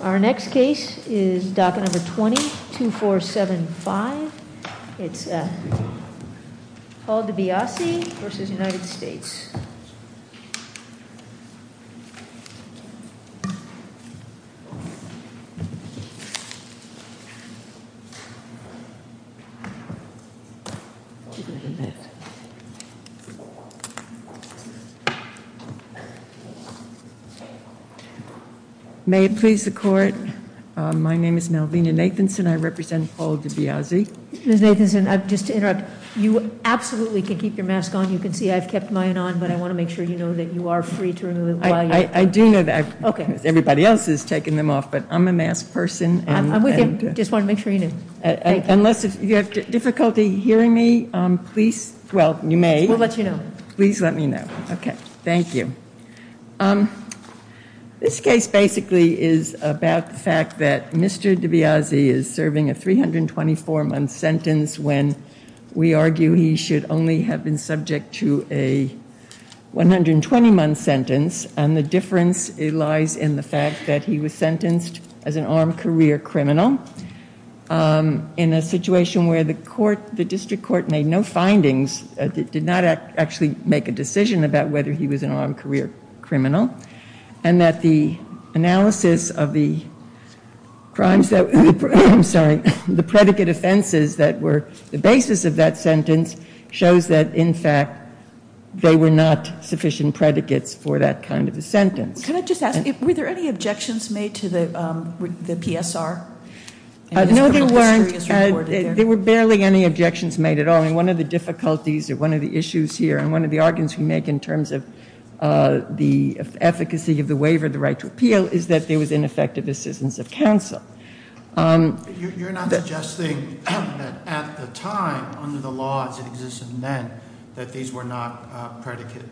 Our next case is docket number 22475. It's called to be Aussie versus United States. May it please the court. My name is Melvina Nathanson. I represent all of the Aussie. You absolutely can keep your mask on. You can see I've kept mine on, but I want to make sure you know that you are free to remove it. I do know that everybody else is taking them off, but I'm a masked person. I just want to make sure you know, unless you have difficulty hearing me, please. Well, you may let you know. Please let me know. OK, thank you. This case basically is about the fact that Mr. Dibiase is serving a 324 month sentence when we argue he should only have been subject to a 120 month sentence. And the difference lies in the fact that he was sentenced as an armed career criminal. In a situation where the court, the district court, made no findings, did not actually make a decision about whether he was an armed career criminal. And that the analysis of the crimes, I'm sorry, the predicate offenses that were the basis of that sentence shows that, in fact, they were not sufficient predicates for that kind of a sentence. Can I just ask, were there any objections made to the PSR? No, there weren't. There were barely any objections made at all. And one of the difficulties, or one of the issues here, and one of the arguments we make in terms of the efficacy of the waiver, the right to appeal, is that there was ineffective assistance of counsel. You're not suggesting that at the time, under the laws that existed then, that these were not predicate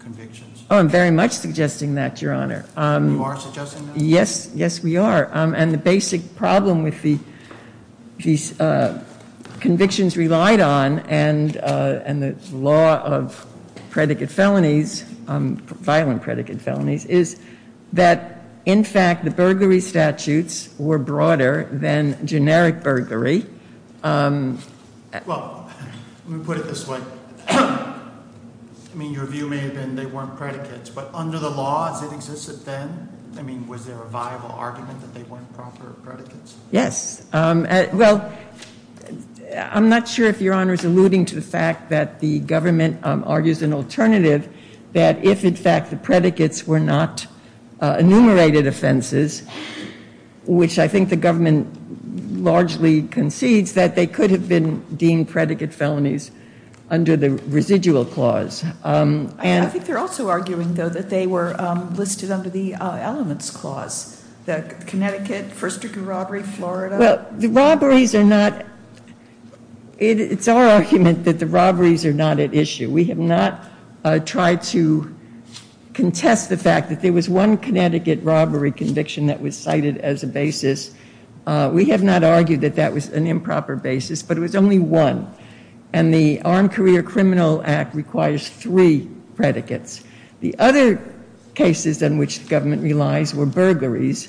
convictions? Oh, I'm very much suggesting that, Your Honor. You are suggesting that? Yes. Yes, we are. And the basic problem with the convictions relied on and the law of predicate felonies, violent predicate felonies, is that, in fact, the burglary statutes were broader than generic burglary. Well, let me put it this way. I mean, your view may have been they weren't predicates, but under the laws that existed then, I mean, was there a viable argument that they weren't proper predicates? Yes. Well, I'm not sure if Your Honor is alluding to the fact that the government argues an alternative that if, in fact, the predicates were not enumerated offenses, which I think the government largely concedes, that they could have been deemed predicate felonies under the residual clause. I think they're also arguing, though, that they were listed under the elements clause, that Connecticut, first degree robbery, Florida. Well, the robberies are not, it's our argument that the robberies are not at issue. We have not tried to contest the fact that there was one Connecticut robbery conviction that was cited as a basis. We have not argued that that was an improper basis, but it was only one. And the Armed Career Criminal Act requires three predicates. The other cases in which the government relies were burglaries,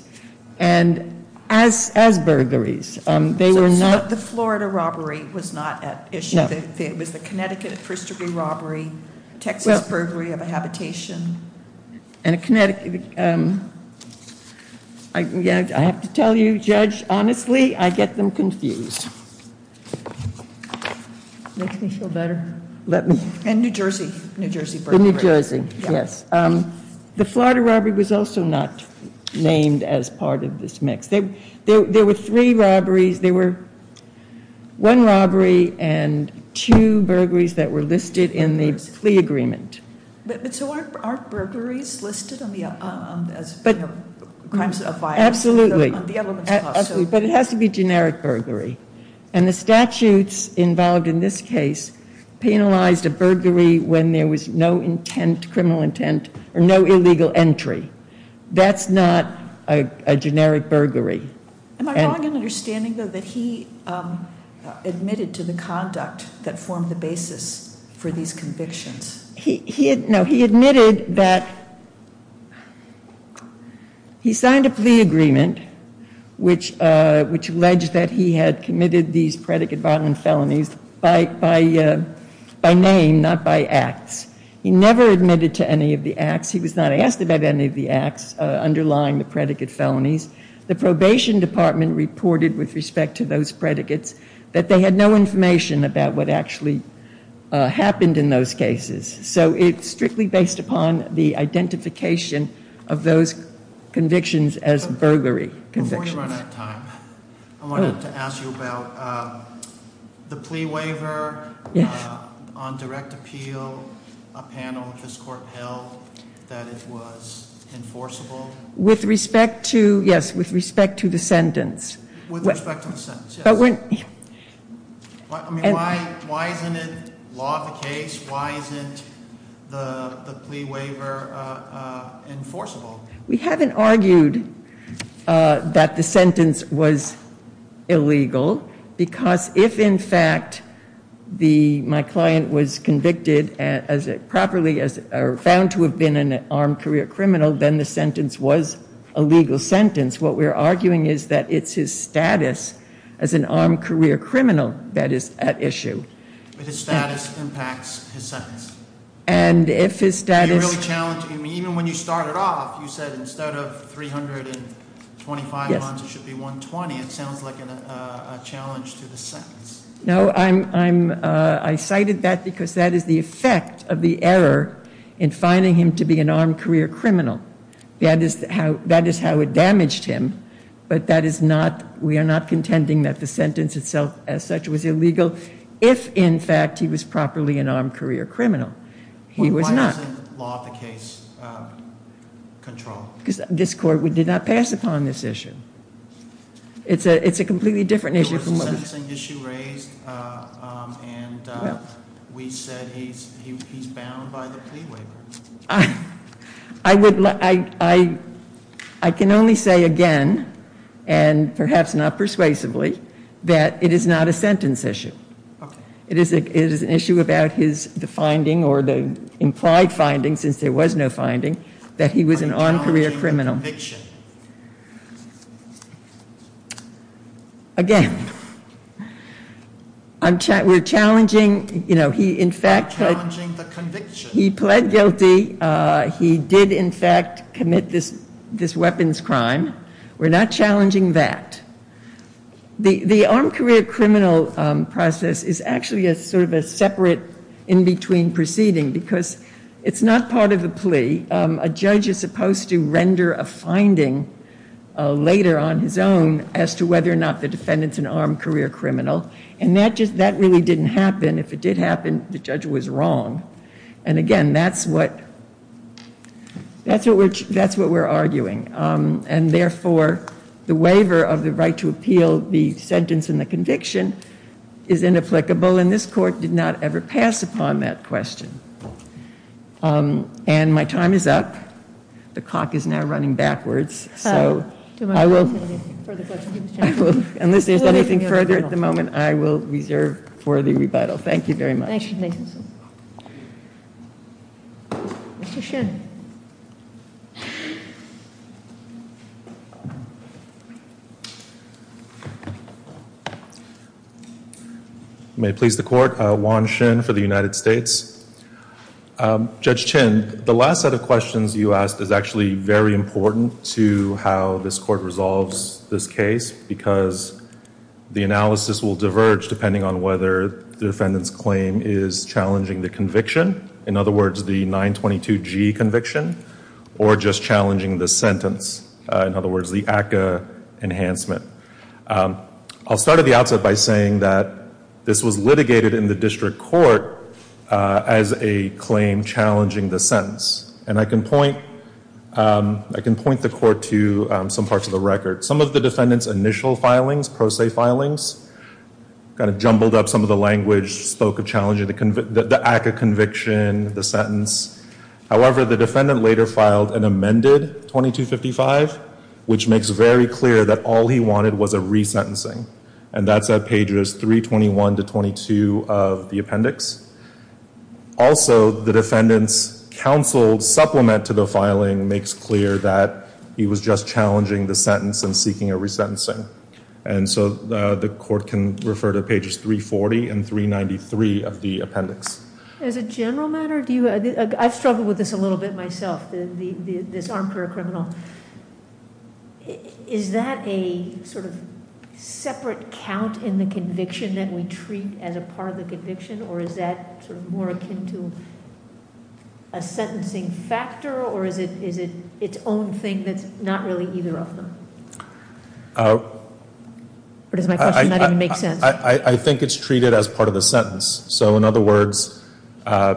and as burglaries, they were not. So the Florida robbery was not at issue. No. It was the Connecticut first degree robbery, Texas burglary of a habitation. And a Connecticut, I have to tell you, Judge, honestly, I get them confused. Makes me feel better. Let me. And New Jersey, New Jersey burglary. The New Jersey, yes. The Florida robbery was also not named as part of this mix. There were three robberies. There were one robbery and two burglaries that were listed in the plea agreement. But so aren't burglaries listed as crimes of violence? Absolutely. On the elements clause. But it has to be generic burglary. And the statutes involved in this case penalized a burglary when there was no intent, criminal intent, or no illegal entry. That's not a generic burglary. Am I wrong in understanding, though, that he admitted to the conduct that formed the basis for these convictions? No. He admitted that he signed a plea agreement which alleged that he had committed these predicate violent felonies by name, not by acts. He never admitted to any of the acts. He was not asked about any of the acts underlying the predicate felonies. The probation department reported with respect to those predicates that they had no information about what actually happened in those cases. So it's strictly based upon the identification of those convictions as burglary convictions. Before you run out of time, I wanted to ask you about the plea waiver on direct appeal. A panel of this court held that it was enforceable. With respect to, yes, with respect to the sentence. With respect to the sentence, yes. Why isn't it law of the case? Why isn't the plea waiver enforceable? We haven't argued that the sentence was illegal because if, in fact, my client was convicted properly or found to have been an armed career criminal, then the sentence was a legal sentence. What we're arguing is that it's his status as an armed career criminal that is at issue. But his status impacts his sentence. And if his status Even when you started off, you said instead of 325 months, it should be 120. It sounds like a challenge to the sentence. No, I cited that because that is the effect of the error in finding him to be an armed career criminal. That is how it damaged him. But that is not, we are not contending that the sentence itself as such was illegal. If, in fact, he was properly an armed career criminal, he was not. Why isn't law of the case controlled? Because this court, we did not pass upon this issue. It's a completely different issue. There was a sentencing issue raised, and we said he's bound by the plea waiver. I can only say again, and perhaps not persuasively, that it is not a sentence issue. It is an issue about the finding, or the implied finding, since there was no finding, that he was an armed career criminal. Again, we're challenging, you know, he, in fact, he pled guilty. He did, in fact, commit this weapons crime. We're not challenging that. The armed career criminal process is actually a sort of a separate in-between proceeding, because it's not part of the plea. A judge is supposed to render a finding later on his own as to whether or not the defendant's an armed career criminal. And that just, that really didn't happen. If it did happen, the judge was wrong. And again, that's what, that's what we're arguing. And therefore, the waiver of the right to appeal the sentence and the conviction is inapplicable. And this court did not ever pass upon that question. And my time is up. The clock is now running backwards. So, I will, unless there's anything further at the moment, I will reserve for the rebuttal. Thank you very much. Thank you, Ms. Nathanson. Mr. Shin. You may please the court. Juan Shin for the United States. Judge Chin, the last set of questions you asked is actually very important to how this court resolves this case, because the analysis will diverge depending on whether the defendant's claim is challenging the conviction. In other words, the 922G conviction, or just challenging the sentence. In other words, the ACCA enhancement. I'll start at the outset by saying that this was litigated in the district court as a claim challenging the sentence. And I can point, I can point the court to some parts of the record. Some of the defendant's initial filings, pro se filings, kind of jumbled up some of the language, spoke of challenging the ACCA conviction, the sentence. However, the defendant later filed an amended 2255, which makes very clear that all he wanted was a resentencing. And that's at pages 321 to 22 of the appendix. Also, the defendant's counsel supplement to the filing makes clear that he was just challenging the sentence and seeking a resentencing. And so the court can refer to pages 340 and 393 of the appendix. As a general matter, I've struggled with this a little bit myself, this armchair criminal. Is that a sort of separate count in the conviction that we treat as a part of the conviction? Or is that sort of more akin to a sentencing factor? Or is it its own thing that's not really either of them? Or does my question not even make sense? I think it's treated as part of the sentence. So in other words,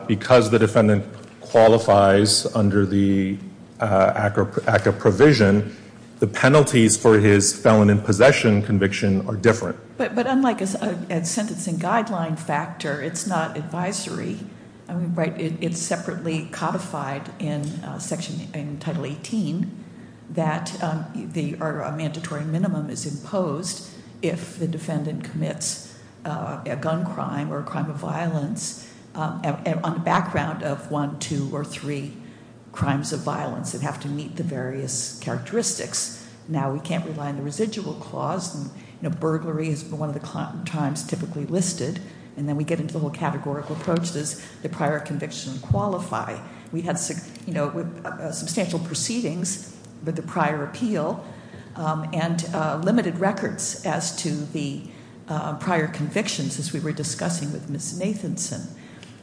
because the defendant qualifies under the ACCA provision, the penalties for his felon in possession conviction are different. But unlike a sentencing guideline factor, it's not advisory. It's separately codified in section, in Title 18, that a mandatory minimum is imposed if the defendant commits a gun crime or a crime of violence on the background of one, two, or three crimes of violence that have to meet the various characteristics. Now, we can't rely on the residual clause. Burglary is one of the crimes typically listed. And then we get into the whole categorical approach, does the prior conviction qualify? We had substantial proceedings with the prior appeal and limited records as to the prior convictions as we were discussing with Ms. Nathanson.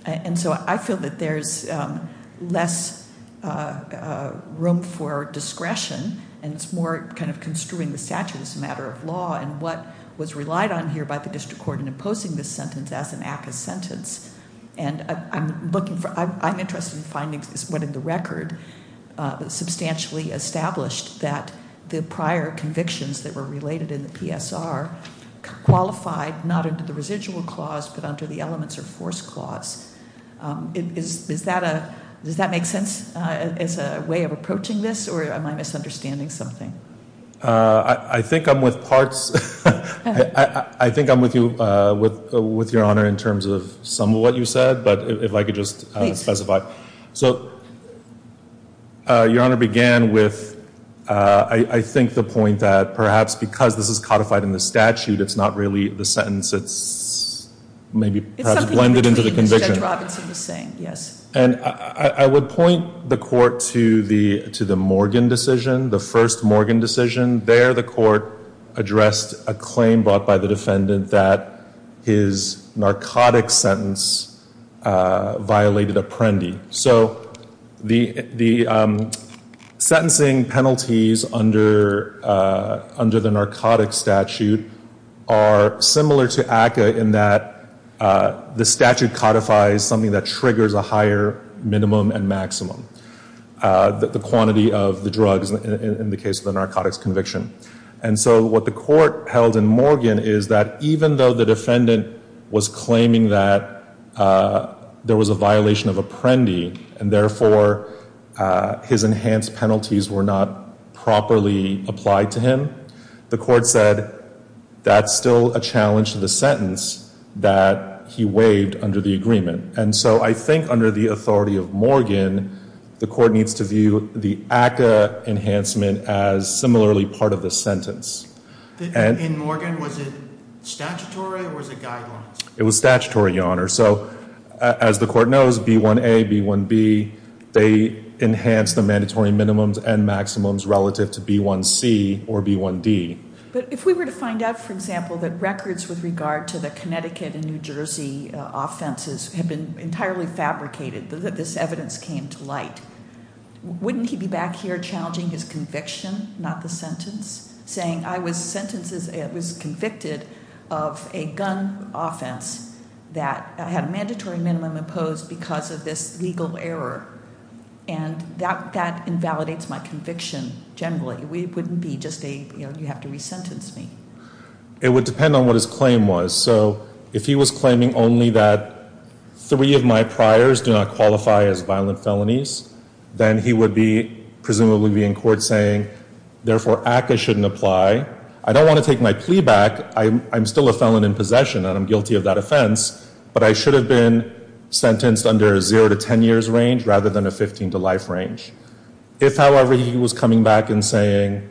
And so I feel that there's less room for discretion. And it's more kind of construing the statute as a matter of law. And what was relied on here by the district court in imposing this sentence as an ACCA sentence. And I'm looking for, I'm interested in finding what in the record substantially established that the prior convictions that were related in the PSR qualified not under the residual clause, but under the elements of force clause. Does that make sense as a way of approaching this, or am I misunderstanding something? I think I'm with parts. I think I'm with you, with your honor, in terms of some of what you said. But if I could just specify. So your honor began with, I think the point that perhaps because this is codified in the statute, it's not really the sentence, it's maybe blended into the conviction. It's something between what Judge Robinson was saying, yes. And I would point the court to the Morgan decision, the first Morgan decision. There the court addressed a claim brought by the defendant that his narcotic sentence violated apprendee. So the sentencing penalties under the narcotic statute are similar to ACCA in that the statute codifies something that triggers a higher minimum and maximum, the quantity of the drugs in the case of the narcotics conviction. And so what the court held in Morgan is that even though the defendant was claiming that there was a violation of apprendee, and therefore his enhanced penalties were not properly applied to him, the court said that's still a challenge to the sentence that he waived under the agreement. And so I think under the authority of Morgan, the court needs to view the ACCA enhancement as similarly part of the sentence. In Morgan, was it statutory or was it guidelines? It was statutory, your honor. So as the court knows, B1A, B1B, they enhanced the mandatory minimums and maximums relative to B1C or B1D. But if we were to find out, for example, that records with regard to the Connecticut and New Jersey offenses had been entirely fabricated, that this evidence came to light, wouldn't he be back here challenging his conviction, not the sentence, saying I was convicted of a gun offense that had a mandatory minimum imposed because of this legal error? And that invalidates my conviction generally. It wouldn't be just a, you know, you have to re-sentence me. It would depend on what his claim was. So if he was claiming only that three of my priors do not qualify as violent felonies, then he would presumably be in court saying, therefore, ACCA shouldn't apply. I don't want to take my plea back. I'm still a felon in possession, and I'm guilty of that offense. But I should have been sentenced under a zero to ten years range rather than a 15 to life range. If, however, he was coming back and saying,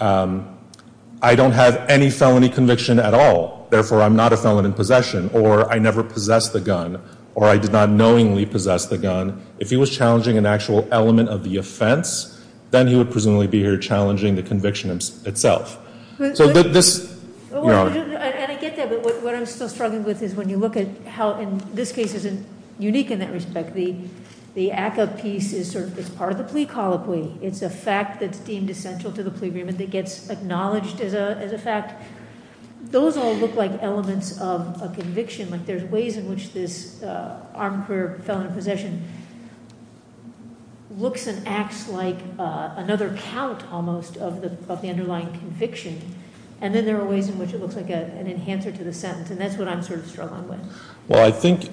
I don't have any felony conviction at all, therefore I'm not a felon in possession, or I never possessed the gun, or I did not knowingly possess the gun, if he was challenging an actual element of the offense, then he would presumably be here challenging the conviction itself. So this- And I get that, but what I'm still struggling with is when you look at how in this case is unique in that respect. The ACCA piece is part of the plea colloquy. It's a fact that's deemed essential to the plea agreement that gets acknowledged as a fact. Those all look like elements of a conviction. Like there's ways in which this armed career felon in possession looks and acts like another count almost of the underlying conviction. And then there are ways in which it looks like an enhancer to the sentence, and that's what I'm sort of struggling with. Well, I think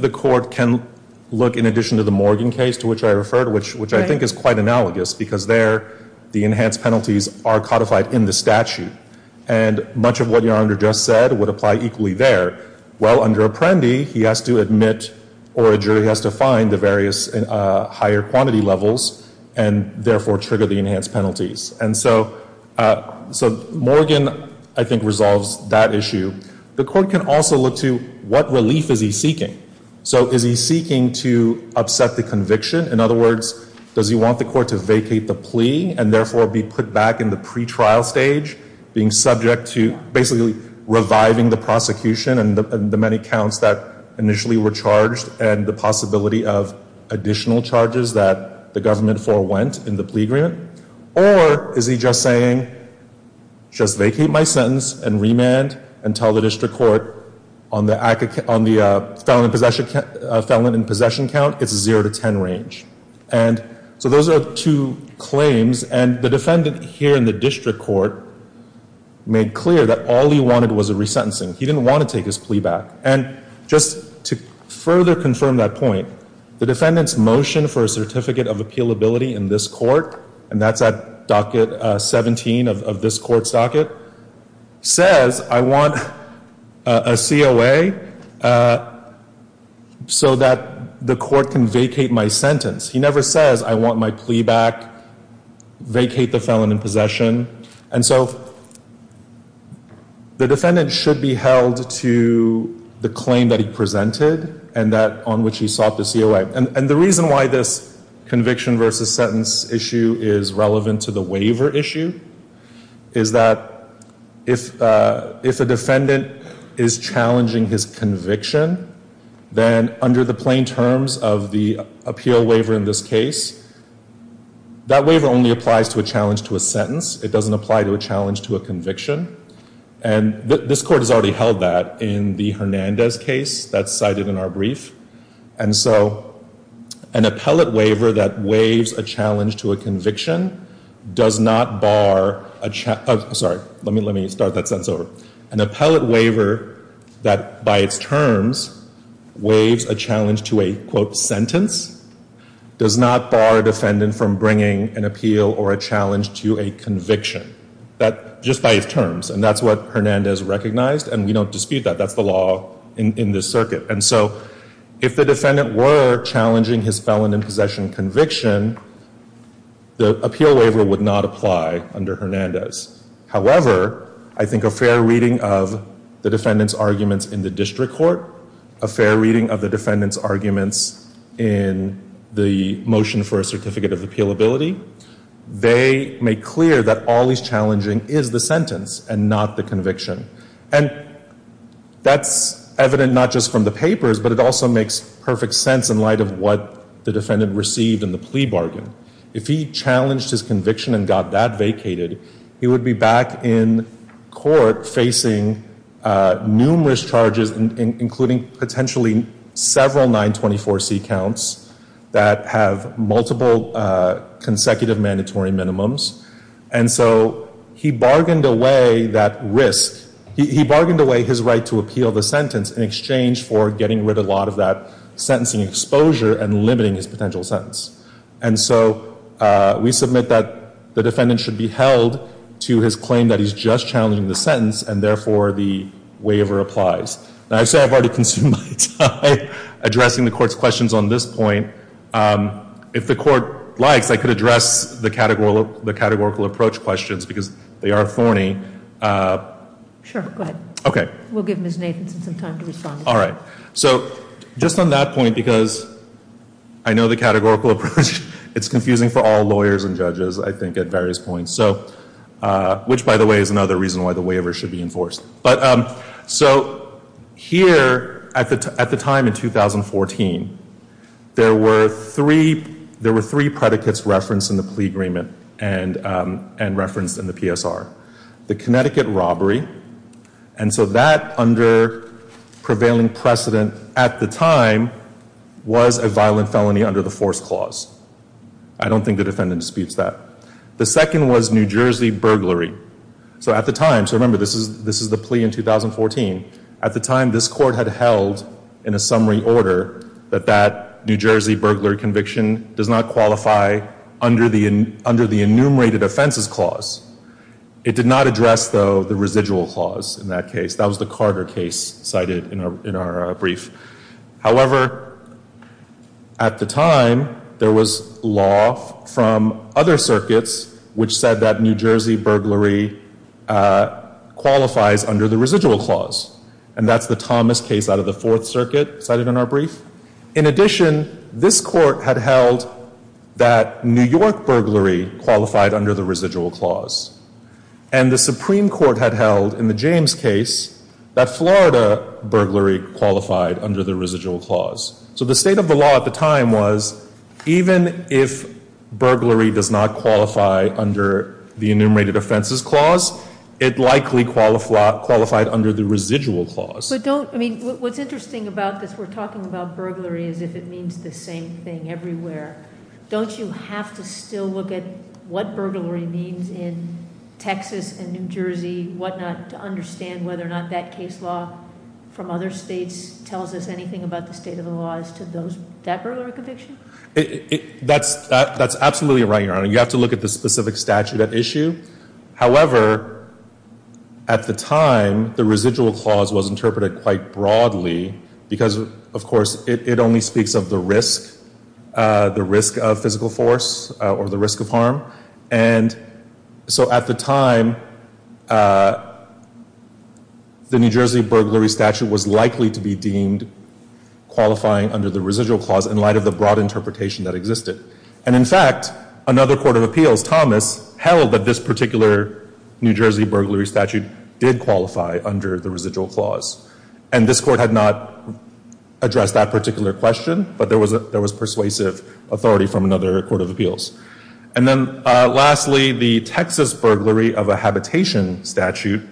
the court can look, in addition to the Morgan case to which I referred, which I think is quite analogous because there the enhanced penalties are codified in the statute. And much of what Your Honor just said would apply equally there. Well, under Apprendi, he has to admit or a jury has to find the various higher quantity levels and therefore trigger the enhanced penalties. And so Morgan, I think, resolves that issue. The court can also look to what relief is he seeking. So is he seeking to upset the conviction? In other words, does he want the court to vacate the plea and therefore be put back in the pretrial stage, being subject to basically reviving the prosecution and the many counts that initially were charged and the possibility of additional charges that the government forewent in the plea agreement? Or is he just saying, just vacate my sentence and remand and tell the district court on the felon in possession count, it's a 0 to 10 range. And so those are two claims. And the defendant here in the district court made clear that all he wanted was a resentencing. He didn't want to take his plea back. And just to further confirm that point, the defendant's motion for a certificate of appealability in this court, and that's at docket 17 of this court's docket, says I want a COA so that the court can vacate my sentence. He never says I want my plea back, vacate the felon in possession. And so the defendant should be held to the claim that he presented and that on which he sought the COA. And the reason why this conviction versus sentence issue is relevant to the waiver issue is that if a defendant is challenging his conviction, then under the plain terms of the appeal waiver in this case, that waiver only applies to a challenge to a sentence. It doesn't apply to a challenge to a conviction. And this court has already held that in the Hernandez case that's cited in our brief. And so an appellate waiver that waives a challenge to a conviction does not bar a, sorry, let me start that sentence over. An appellate waiver that by its terms waives a challenge to a, quote, sentence, does not bar a defendant from bringing an appeal or a challenge to a conviction, just by its terms. And that's what Hernandez recognized. And we don't dispute that. That's the law in this circuit. And so if the defendant were challenging his felon in possession conviction, the appeal waiver would not apply under Hernandez. However, I think a fair reading of the defendant's arguments in the district court, a fair reading of the defendant's arguments in the motion for a certificate of appealability, they make clear that all he's challenging is the sentence and not the conviction. And that's evident not just from the papers, but it also makes perfect sense in light of what the defendant received in the plea bargain. If he challenged his conviction and got that vacated, he would be back in court facing numerous charges, including potentially several 924C counts that have multiple consecutive mandatory minimums. And so he bargained away that risk. He bargained away his right to appeal the sentence in exchange for getting rid of a lot of that sentencing exposure and limiting his potential sentence. And so we submit that the defendant should be held to his claim that he's just challenging the sentence and, therefore, the waiver applies. Now, I say I've already consumed my time addressing the Court's questions on this point. If the Court likes, I could address the categorical approach questions, because they are thorny. Sure, go ahead. Okay. We'll give Ms. Nathanson some time to respond. All right. So just on that point, because I know the categorical approach, it's confusing for all lawyers and judges, I think, at various points, which, by the way, is another reason why the waiver should be enforced. So here, at the time in 2014, there were three predicates referenced in the plea agreement and referenced in the PSR. The Connecticut robbery. And so that, under prevailing precedent at the time, was a violent felony under the force clause. I don't think the defendant disputes that. The second was New Jersey burglary. So at the time, so remember, this is the plea in 2014. At the time, this Court had held, in a summary order, that that New Jersey burglary conviction does not qualify under the enumerated offenses clause. It did not address, though, the residual clause in that case. That was the Carter case cited in our brief. However, at the time, there was law from other circuits which said that New Jersey burglary qualifies under the residual clause. And that's the Thomas case out of the Fourth Circuit cited in our brief. In addition, this Court had held that New York burglary qualified under the residual clause. And the Supreme Court had held, in the James case, that Florida burglary qualified under the residual clause. So the state of the law at the time was, even if burglary does not qualify under the enumerated offenses clause, it likely qualified under the residual clause. But don't, I mean, what's interesting about this, we're talking about burglary as if it means the same thing everywhere. Don't you have to still look at what burglary means in Texas and New Jersey, what not, to understand whether or not that case law from other states tells us anything about the state of the law as to that burglary conviction? That's absolutely right, Your Honor. You have to look at the specific statute at issue. However, at the time, the residual clause was interpreted quite broadly because, of course, it only speaks of the risk. The risk of physical force or the risk of harm. And so at the time, the New Jersey burglary statute was likely to be deemed qualifying under the residual clause in light of the broad interpretation that existed. And in fact, another court of appeals, Thomas, held that this particular New Jersey burglary statute did qualify under the residual clause. And this court had not addressed that particular question, but there was persuasive authority from another court of appeals. And then lastly, the Texas burglary of a habitation statute.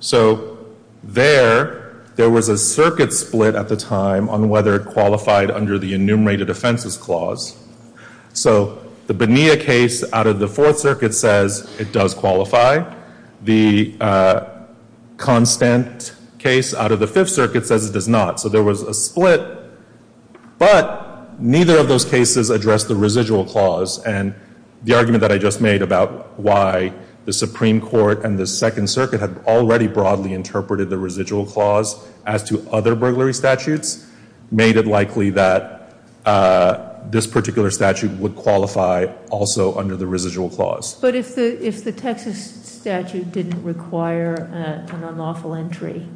So there, there was a circuit split at the time on whether it qualified under the enumerated offenses clause. So the Bonilla case out of the Fourth Circuit says it does qualify. The Constant case out of the Fifth Circuit says it does not. So there was a split, but neither of those cases addressed the residual clause. And the argument that I just made about why the Supreme Court and the Second Circuit had already broadly interpreted the residual clause as to other burglary statutes, made it likely that this particular statute would qualify also under the residual clause. But if the Texas statute didn't require an unlawful entry,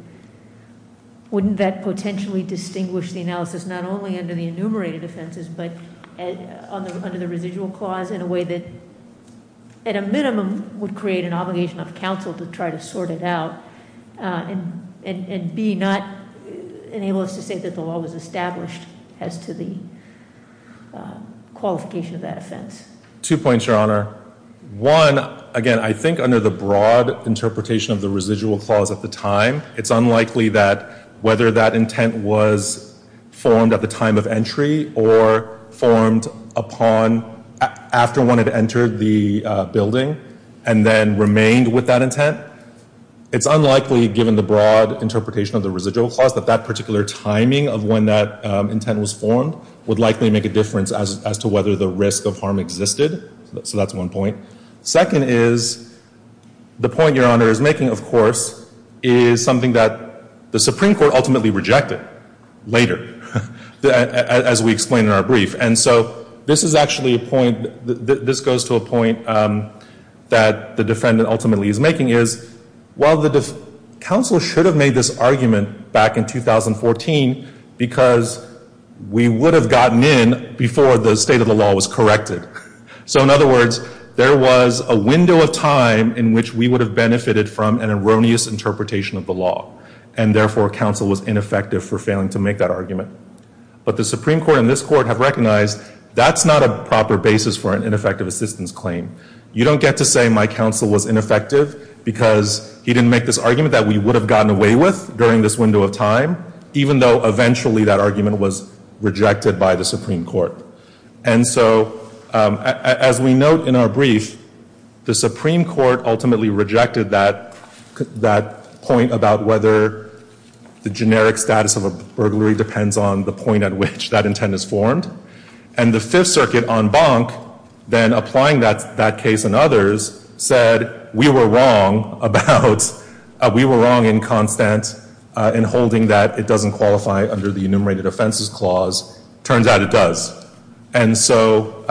wouldn't that potentially distinguish the analysis not only under the enumerated offenses, but under the residual clause in a way that, at a minimum, would create an obligation of counsel to try to sort it out, and B, not enable us to say that the law was established as to the qualification of that offense? Two points, Your Honor. One, again, I think under the broad interpretation of the residual clause at the time, it's unlikely that whether that intent was formed at the time of entry or formed upon, after one had entered the building and then remained with that intent, it's unlikely, given the broad interpretation of the residual clause, that that particular timing of when that intent was formed would likely make a difference as to whether the risk of harm existed. So that's one point. Second is, the point Your Honor is making, of course, is something that the Supreme Court ultimately rejected later, as we explained in our brief. And so this is actually a point, this goes to a point that the defendant ultimately is making, is while the counsel should have made this argument back in 2014, because we would have gotten in before the state of the law was corrected. So in other words, there was a window of time in which we would have benefited from an erroneous interpretation of the law, and therefore counsel was ineffective for failing to make that argument. But the Supreme Court and this Court have recognized that's not a proper basis for an ineffective assistance claim. You don't get to say my counsel was ineffective because he didn't make this argument that we would have gotten away with during this window of time, even though eventually that argument was rejected by the Supreme Court. And so as we note in our brief, the Supreme Court ultimately rejected that point about whether the generic status of a burglary depends on the point at which that intent is formed. And the Fifth Circuit en banc, then applying that case and others, said we were wrong about, we were wrong in Constant in holding that it doesn't qualify under the Enumerated Offenses Clause. Turns out it does. And so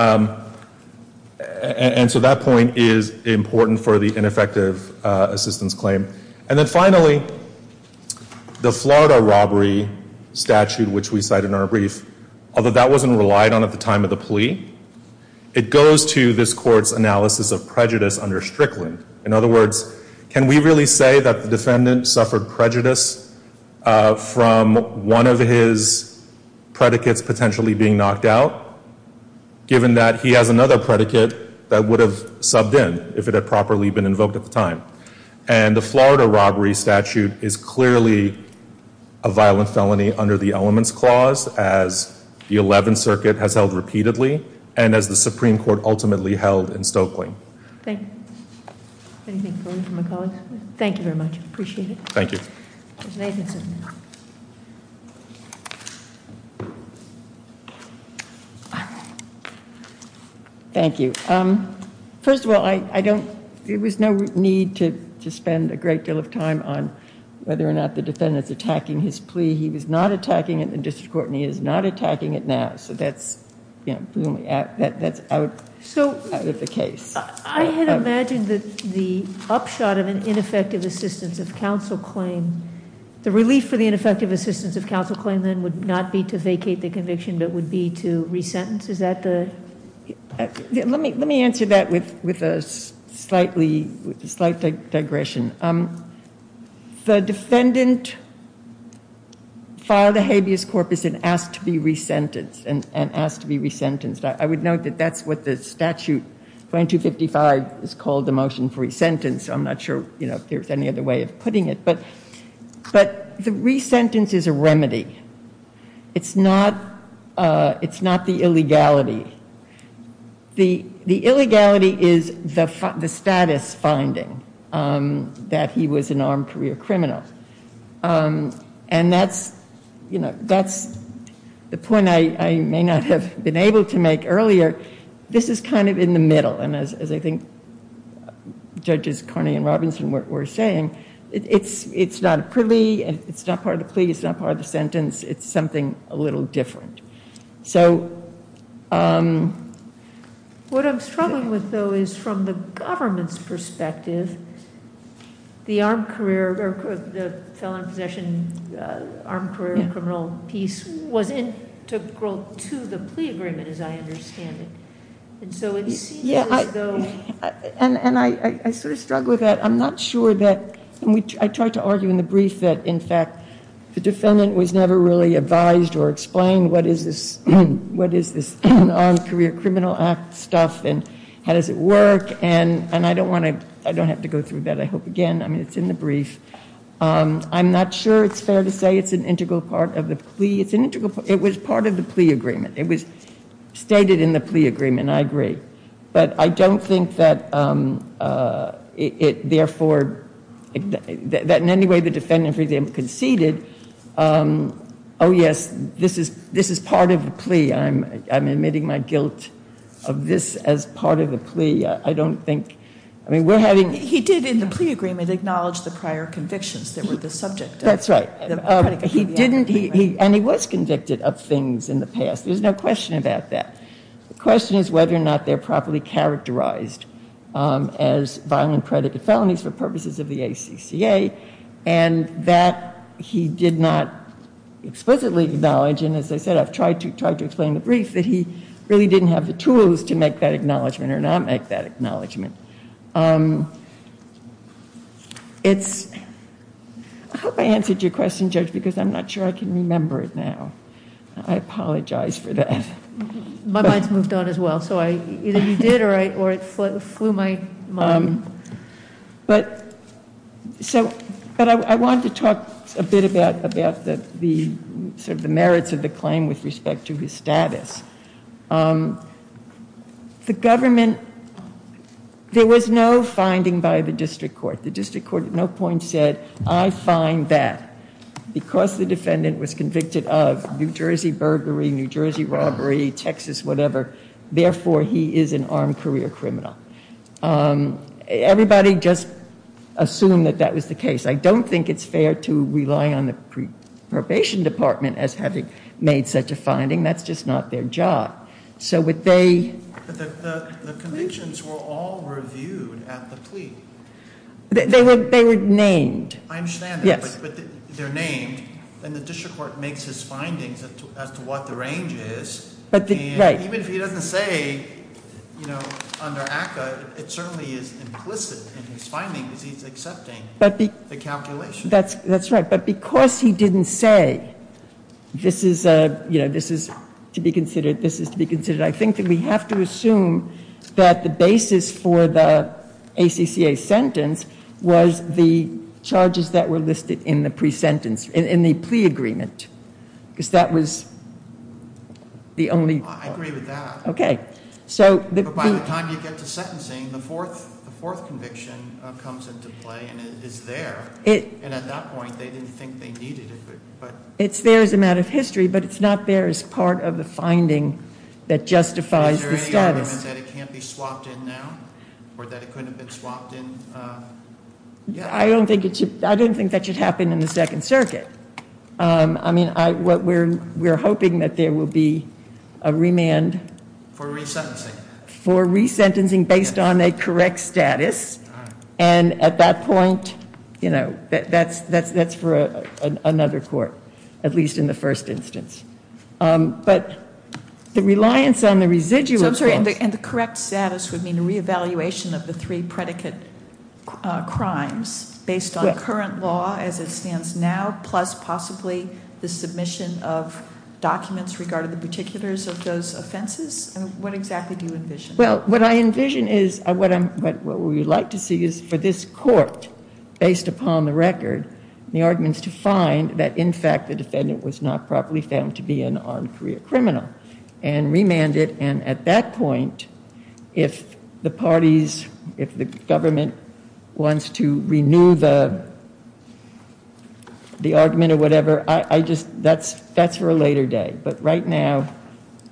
that point is important for the ineffective assistance claim. And then finally, the Florida robbery statute, which we cite in our brief, although that wasn't relied on at the time of the plea, it goes to this Court's analysis of prejudice under Strickland. In other words, can we really say that the defendant suffered prejudice from one of his predicates potentially being knocked out, given that he has another predicate that would have subbed in if it had properly been invoked at the time? And the Florida robbery statute is clearly a violent felony under the Elements Clause, as the Eleventh Circuit has held repeatedly and as the Supreme Court ultimately held in Stokely. Thank you. Anything further from my colleagues? Thank you very much. Appreciate it. Thank you. Ms. Nathanson. Thank you. First of all, I don't, there was no need to spend a great deal of time on whether or not the defendant's attacking his plea. He was not attacking it in the district court, and he is not attacking it now. So that's out of the case. I had imagined that the upshot of an ineffective assistance of counsel claim, the relief for the ineffective assistance of counsel claim then would not be to vacate the conviction, but would be to resentence. Is that the? Let me answer that with a slight digression. The defendant filed a habeas corpus and asked to be resentenced, and asked to be resentenced. I would note that that's what the statute 2255 has called the motion for resentence. I'm not sure, you know, if there's any other way of putting it. But the resentence is a remedy. It's not the illegality. The illegality is the status finding that he was an armed career criminal. And that's, you know, that's the point I may not have been able to make earlier. This is kind of in the middle, and as I think Judges Carney and Robinson were saying, it's not a plea, it's not part of the plea, it's not part of the sentence. It's something a little different. So. What I'm struggling with, though, is from the government's perspective, the armed career, the felon in possession armed career criminal piece was integral to the plea agreement, as I understand it. And so it seems as though. And I sort of struggle with that. I'm not sure that I tried to argue in the brief that, in fact, the defendant was never really advised or explained. What is this? What is this career criminal act stuff? And how does it work? And I don't want to I don't have to go through that. I hope again. It's in the brief. I'm not sure it's fair to say it's an integral part of the plea. It's an integral. It was part of the plea agreement. It was stated in the plea agreement. I agree. But I don't think that it therefore that in any way the defendant for them conceded. Oh, yes. This is this is part of the plea. I'm I'm admitting my guilt of this as part of the plea. I don't think I mean, we're having. He did in the plea agreement acknowledge the prior convictions that were the subject. That's right. He didn't. And he was convicted of things in the past. There's no question about that. The question is whether or not they're properly characterized as violent predicate felonies for purposes of the ACCA. And that he did not explicitly acknowledge. And as I said, I've tried to try to explain the brief that he really didn't have the tools to make that acknowledgement or not make that acknowledgement. It's I hope I answered your question, Judge, because I'm not sure I can remember it now. I apologize for that. My mind's moved on as well. So I either you did or I or it flew my mind. But so but I want to talk a bit about about the sort of the merits of the claim with respect to his status. The government there was no finding by the district court. The district court at no point said I find that because the defendant was convicted of New Jersey burglary, New Jersey robbery, Texas, whatever. Therefore, he is an armed career criminal. Everybody just assume that that was the case. I don't think it's fair to rely on the probation department as having made such a finding. That's just not their job. So what they. The convictions were all reviewed at the plea. They were they were named. I understand. But they're named. And the district court makes his findings as to what the range is. But even if he doesn't say, you know, under ACCA, it certainly is implicit in his findings. He's accepting the calculation. That's that's right. But because he didn't say this is a you know, this is to be considered. This is to be considered. I think that we have to assume that the basis for the ACCA sentence was the charges that were listed in the pre-sentence in the plea agreement. Because that was. The only. I agree with that. Okay. So by the time you get to sentencing, the fourth conviction comes into play and it is there. And at that point, they didn't think they needed it. It's there is a matter of history, but it's not. There is part of the finding that justifies. I don't think I don't think that should happen in the Second Circuit. I mean, what we're we're hoping that there will be a remand for resentencing for resentencing based on a correct status. And at that point, you know, that's that's that's for another court, at least in the first instance. But the reliance on the residual. I'm sorry. And the correct status would mean a reevaluation of the three predicate crimes based on current law as it stands now. Plus possibly the submission of documents regarded the particulars of those offenses. And what exactly do you envision? Well, what I envision is what I'm what we would like to see is for this court based upon the record, the arguments to find that, in fact, the defendant was not properly found to be an armed career criminal and remanded. And at that point, if the parties, if the government wants to renew the. The argument or whatever, I just that's that's for a later day. But right now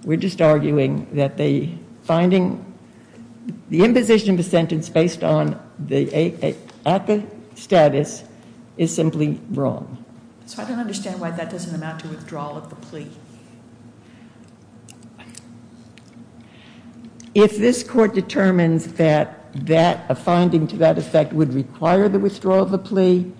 we're just arguing that the finding the imposition of a sentence based on the status is simply wrong. So I don't understand why that doesn't amount to withdrawal of the plea. If this court determines that that a finding to that effect would require the withdrawal of the plea.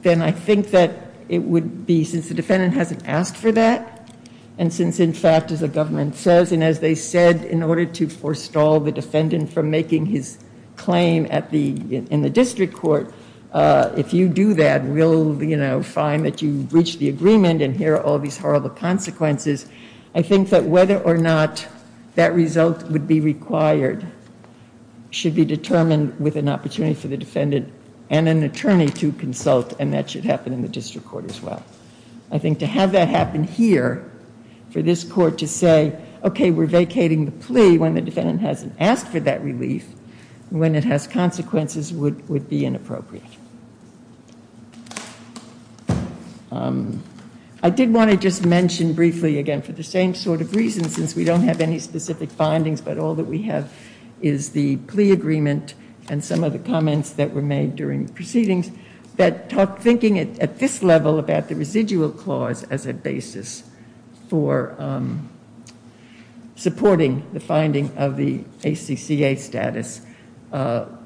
Then I think that it would be since the defendant hasn't asked for that. And since, in fact, as the government says, and as they said, in order to forestall the defendant from making his claim at the in the district court. If you do that, we'll find that you reach the agreement. And here are all these horrible consequences. I think that whether or not that result would be required should be determined with an opportunity. For the defendant and an attorney to consult. And that should happen in the district court as well. I think to have that happen here for this court to say, OK, we're vacating the plea when the defendant hasn't asked for that relief. When it has consequences would would be inappropriate. I did want to just mention briefly again for the same sort of reason, since we don't have any specific findings. But all that we have is the plea agreement and some of the comments that were made during proceedings. That thinking at this level about the residual clause as a basis for supporting the finding of the ACCA status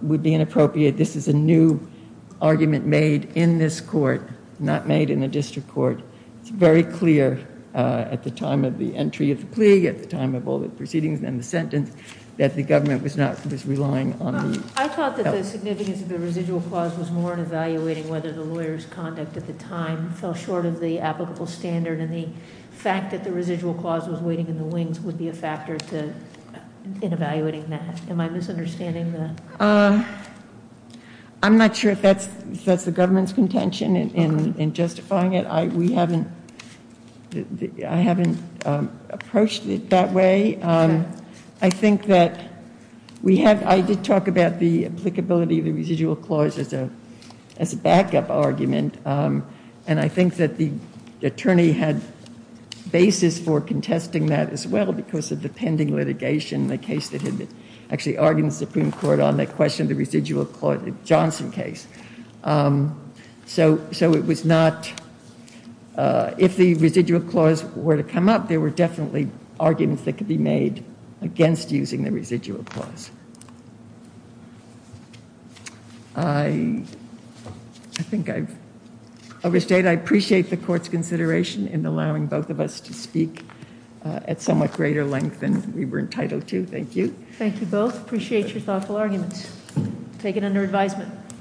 would be inappropriate. This is a new argument made in this court, not made in the district court. It's very clear at the time of the entry of the plea, at the time of all the proceedings and the sentence that the government was relying on. I thought that the significance of the residual clause was more in evaluating whether the lawyer's conduct at the time fell short of the applicable standard. And the fact that the residual clause was waiting in the wings would be a factor in evaluating that. Am I misunderstanding that? I'm not sure if that's the government's contention in justifying it. We haven't, I haven't approached it that way. I think that we have, I did talk about the applicability of the residual clause as a backup argument. And I think that the attorney had basis for contesting that as well because of the pending litigation, the case that had actually argued in the Supreme Court on that question, the residual clause, the Johnson case. So it was not, if the residual clause were to come up, there were definitely arguments that could be made against using the residual clause. I think I've overstayed. I appreciate the court's consideration in allowing both of us to speak at somewhat greater length than we were entitled to. Thank you. Thank you both. Appreciate your thoughtful arguments. Take it under advisement.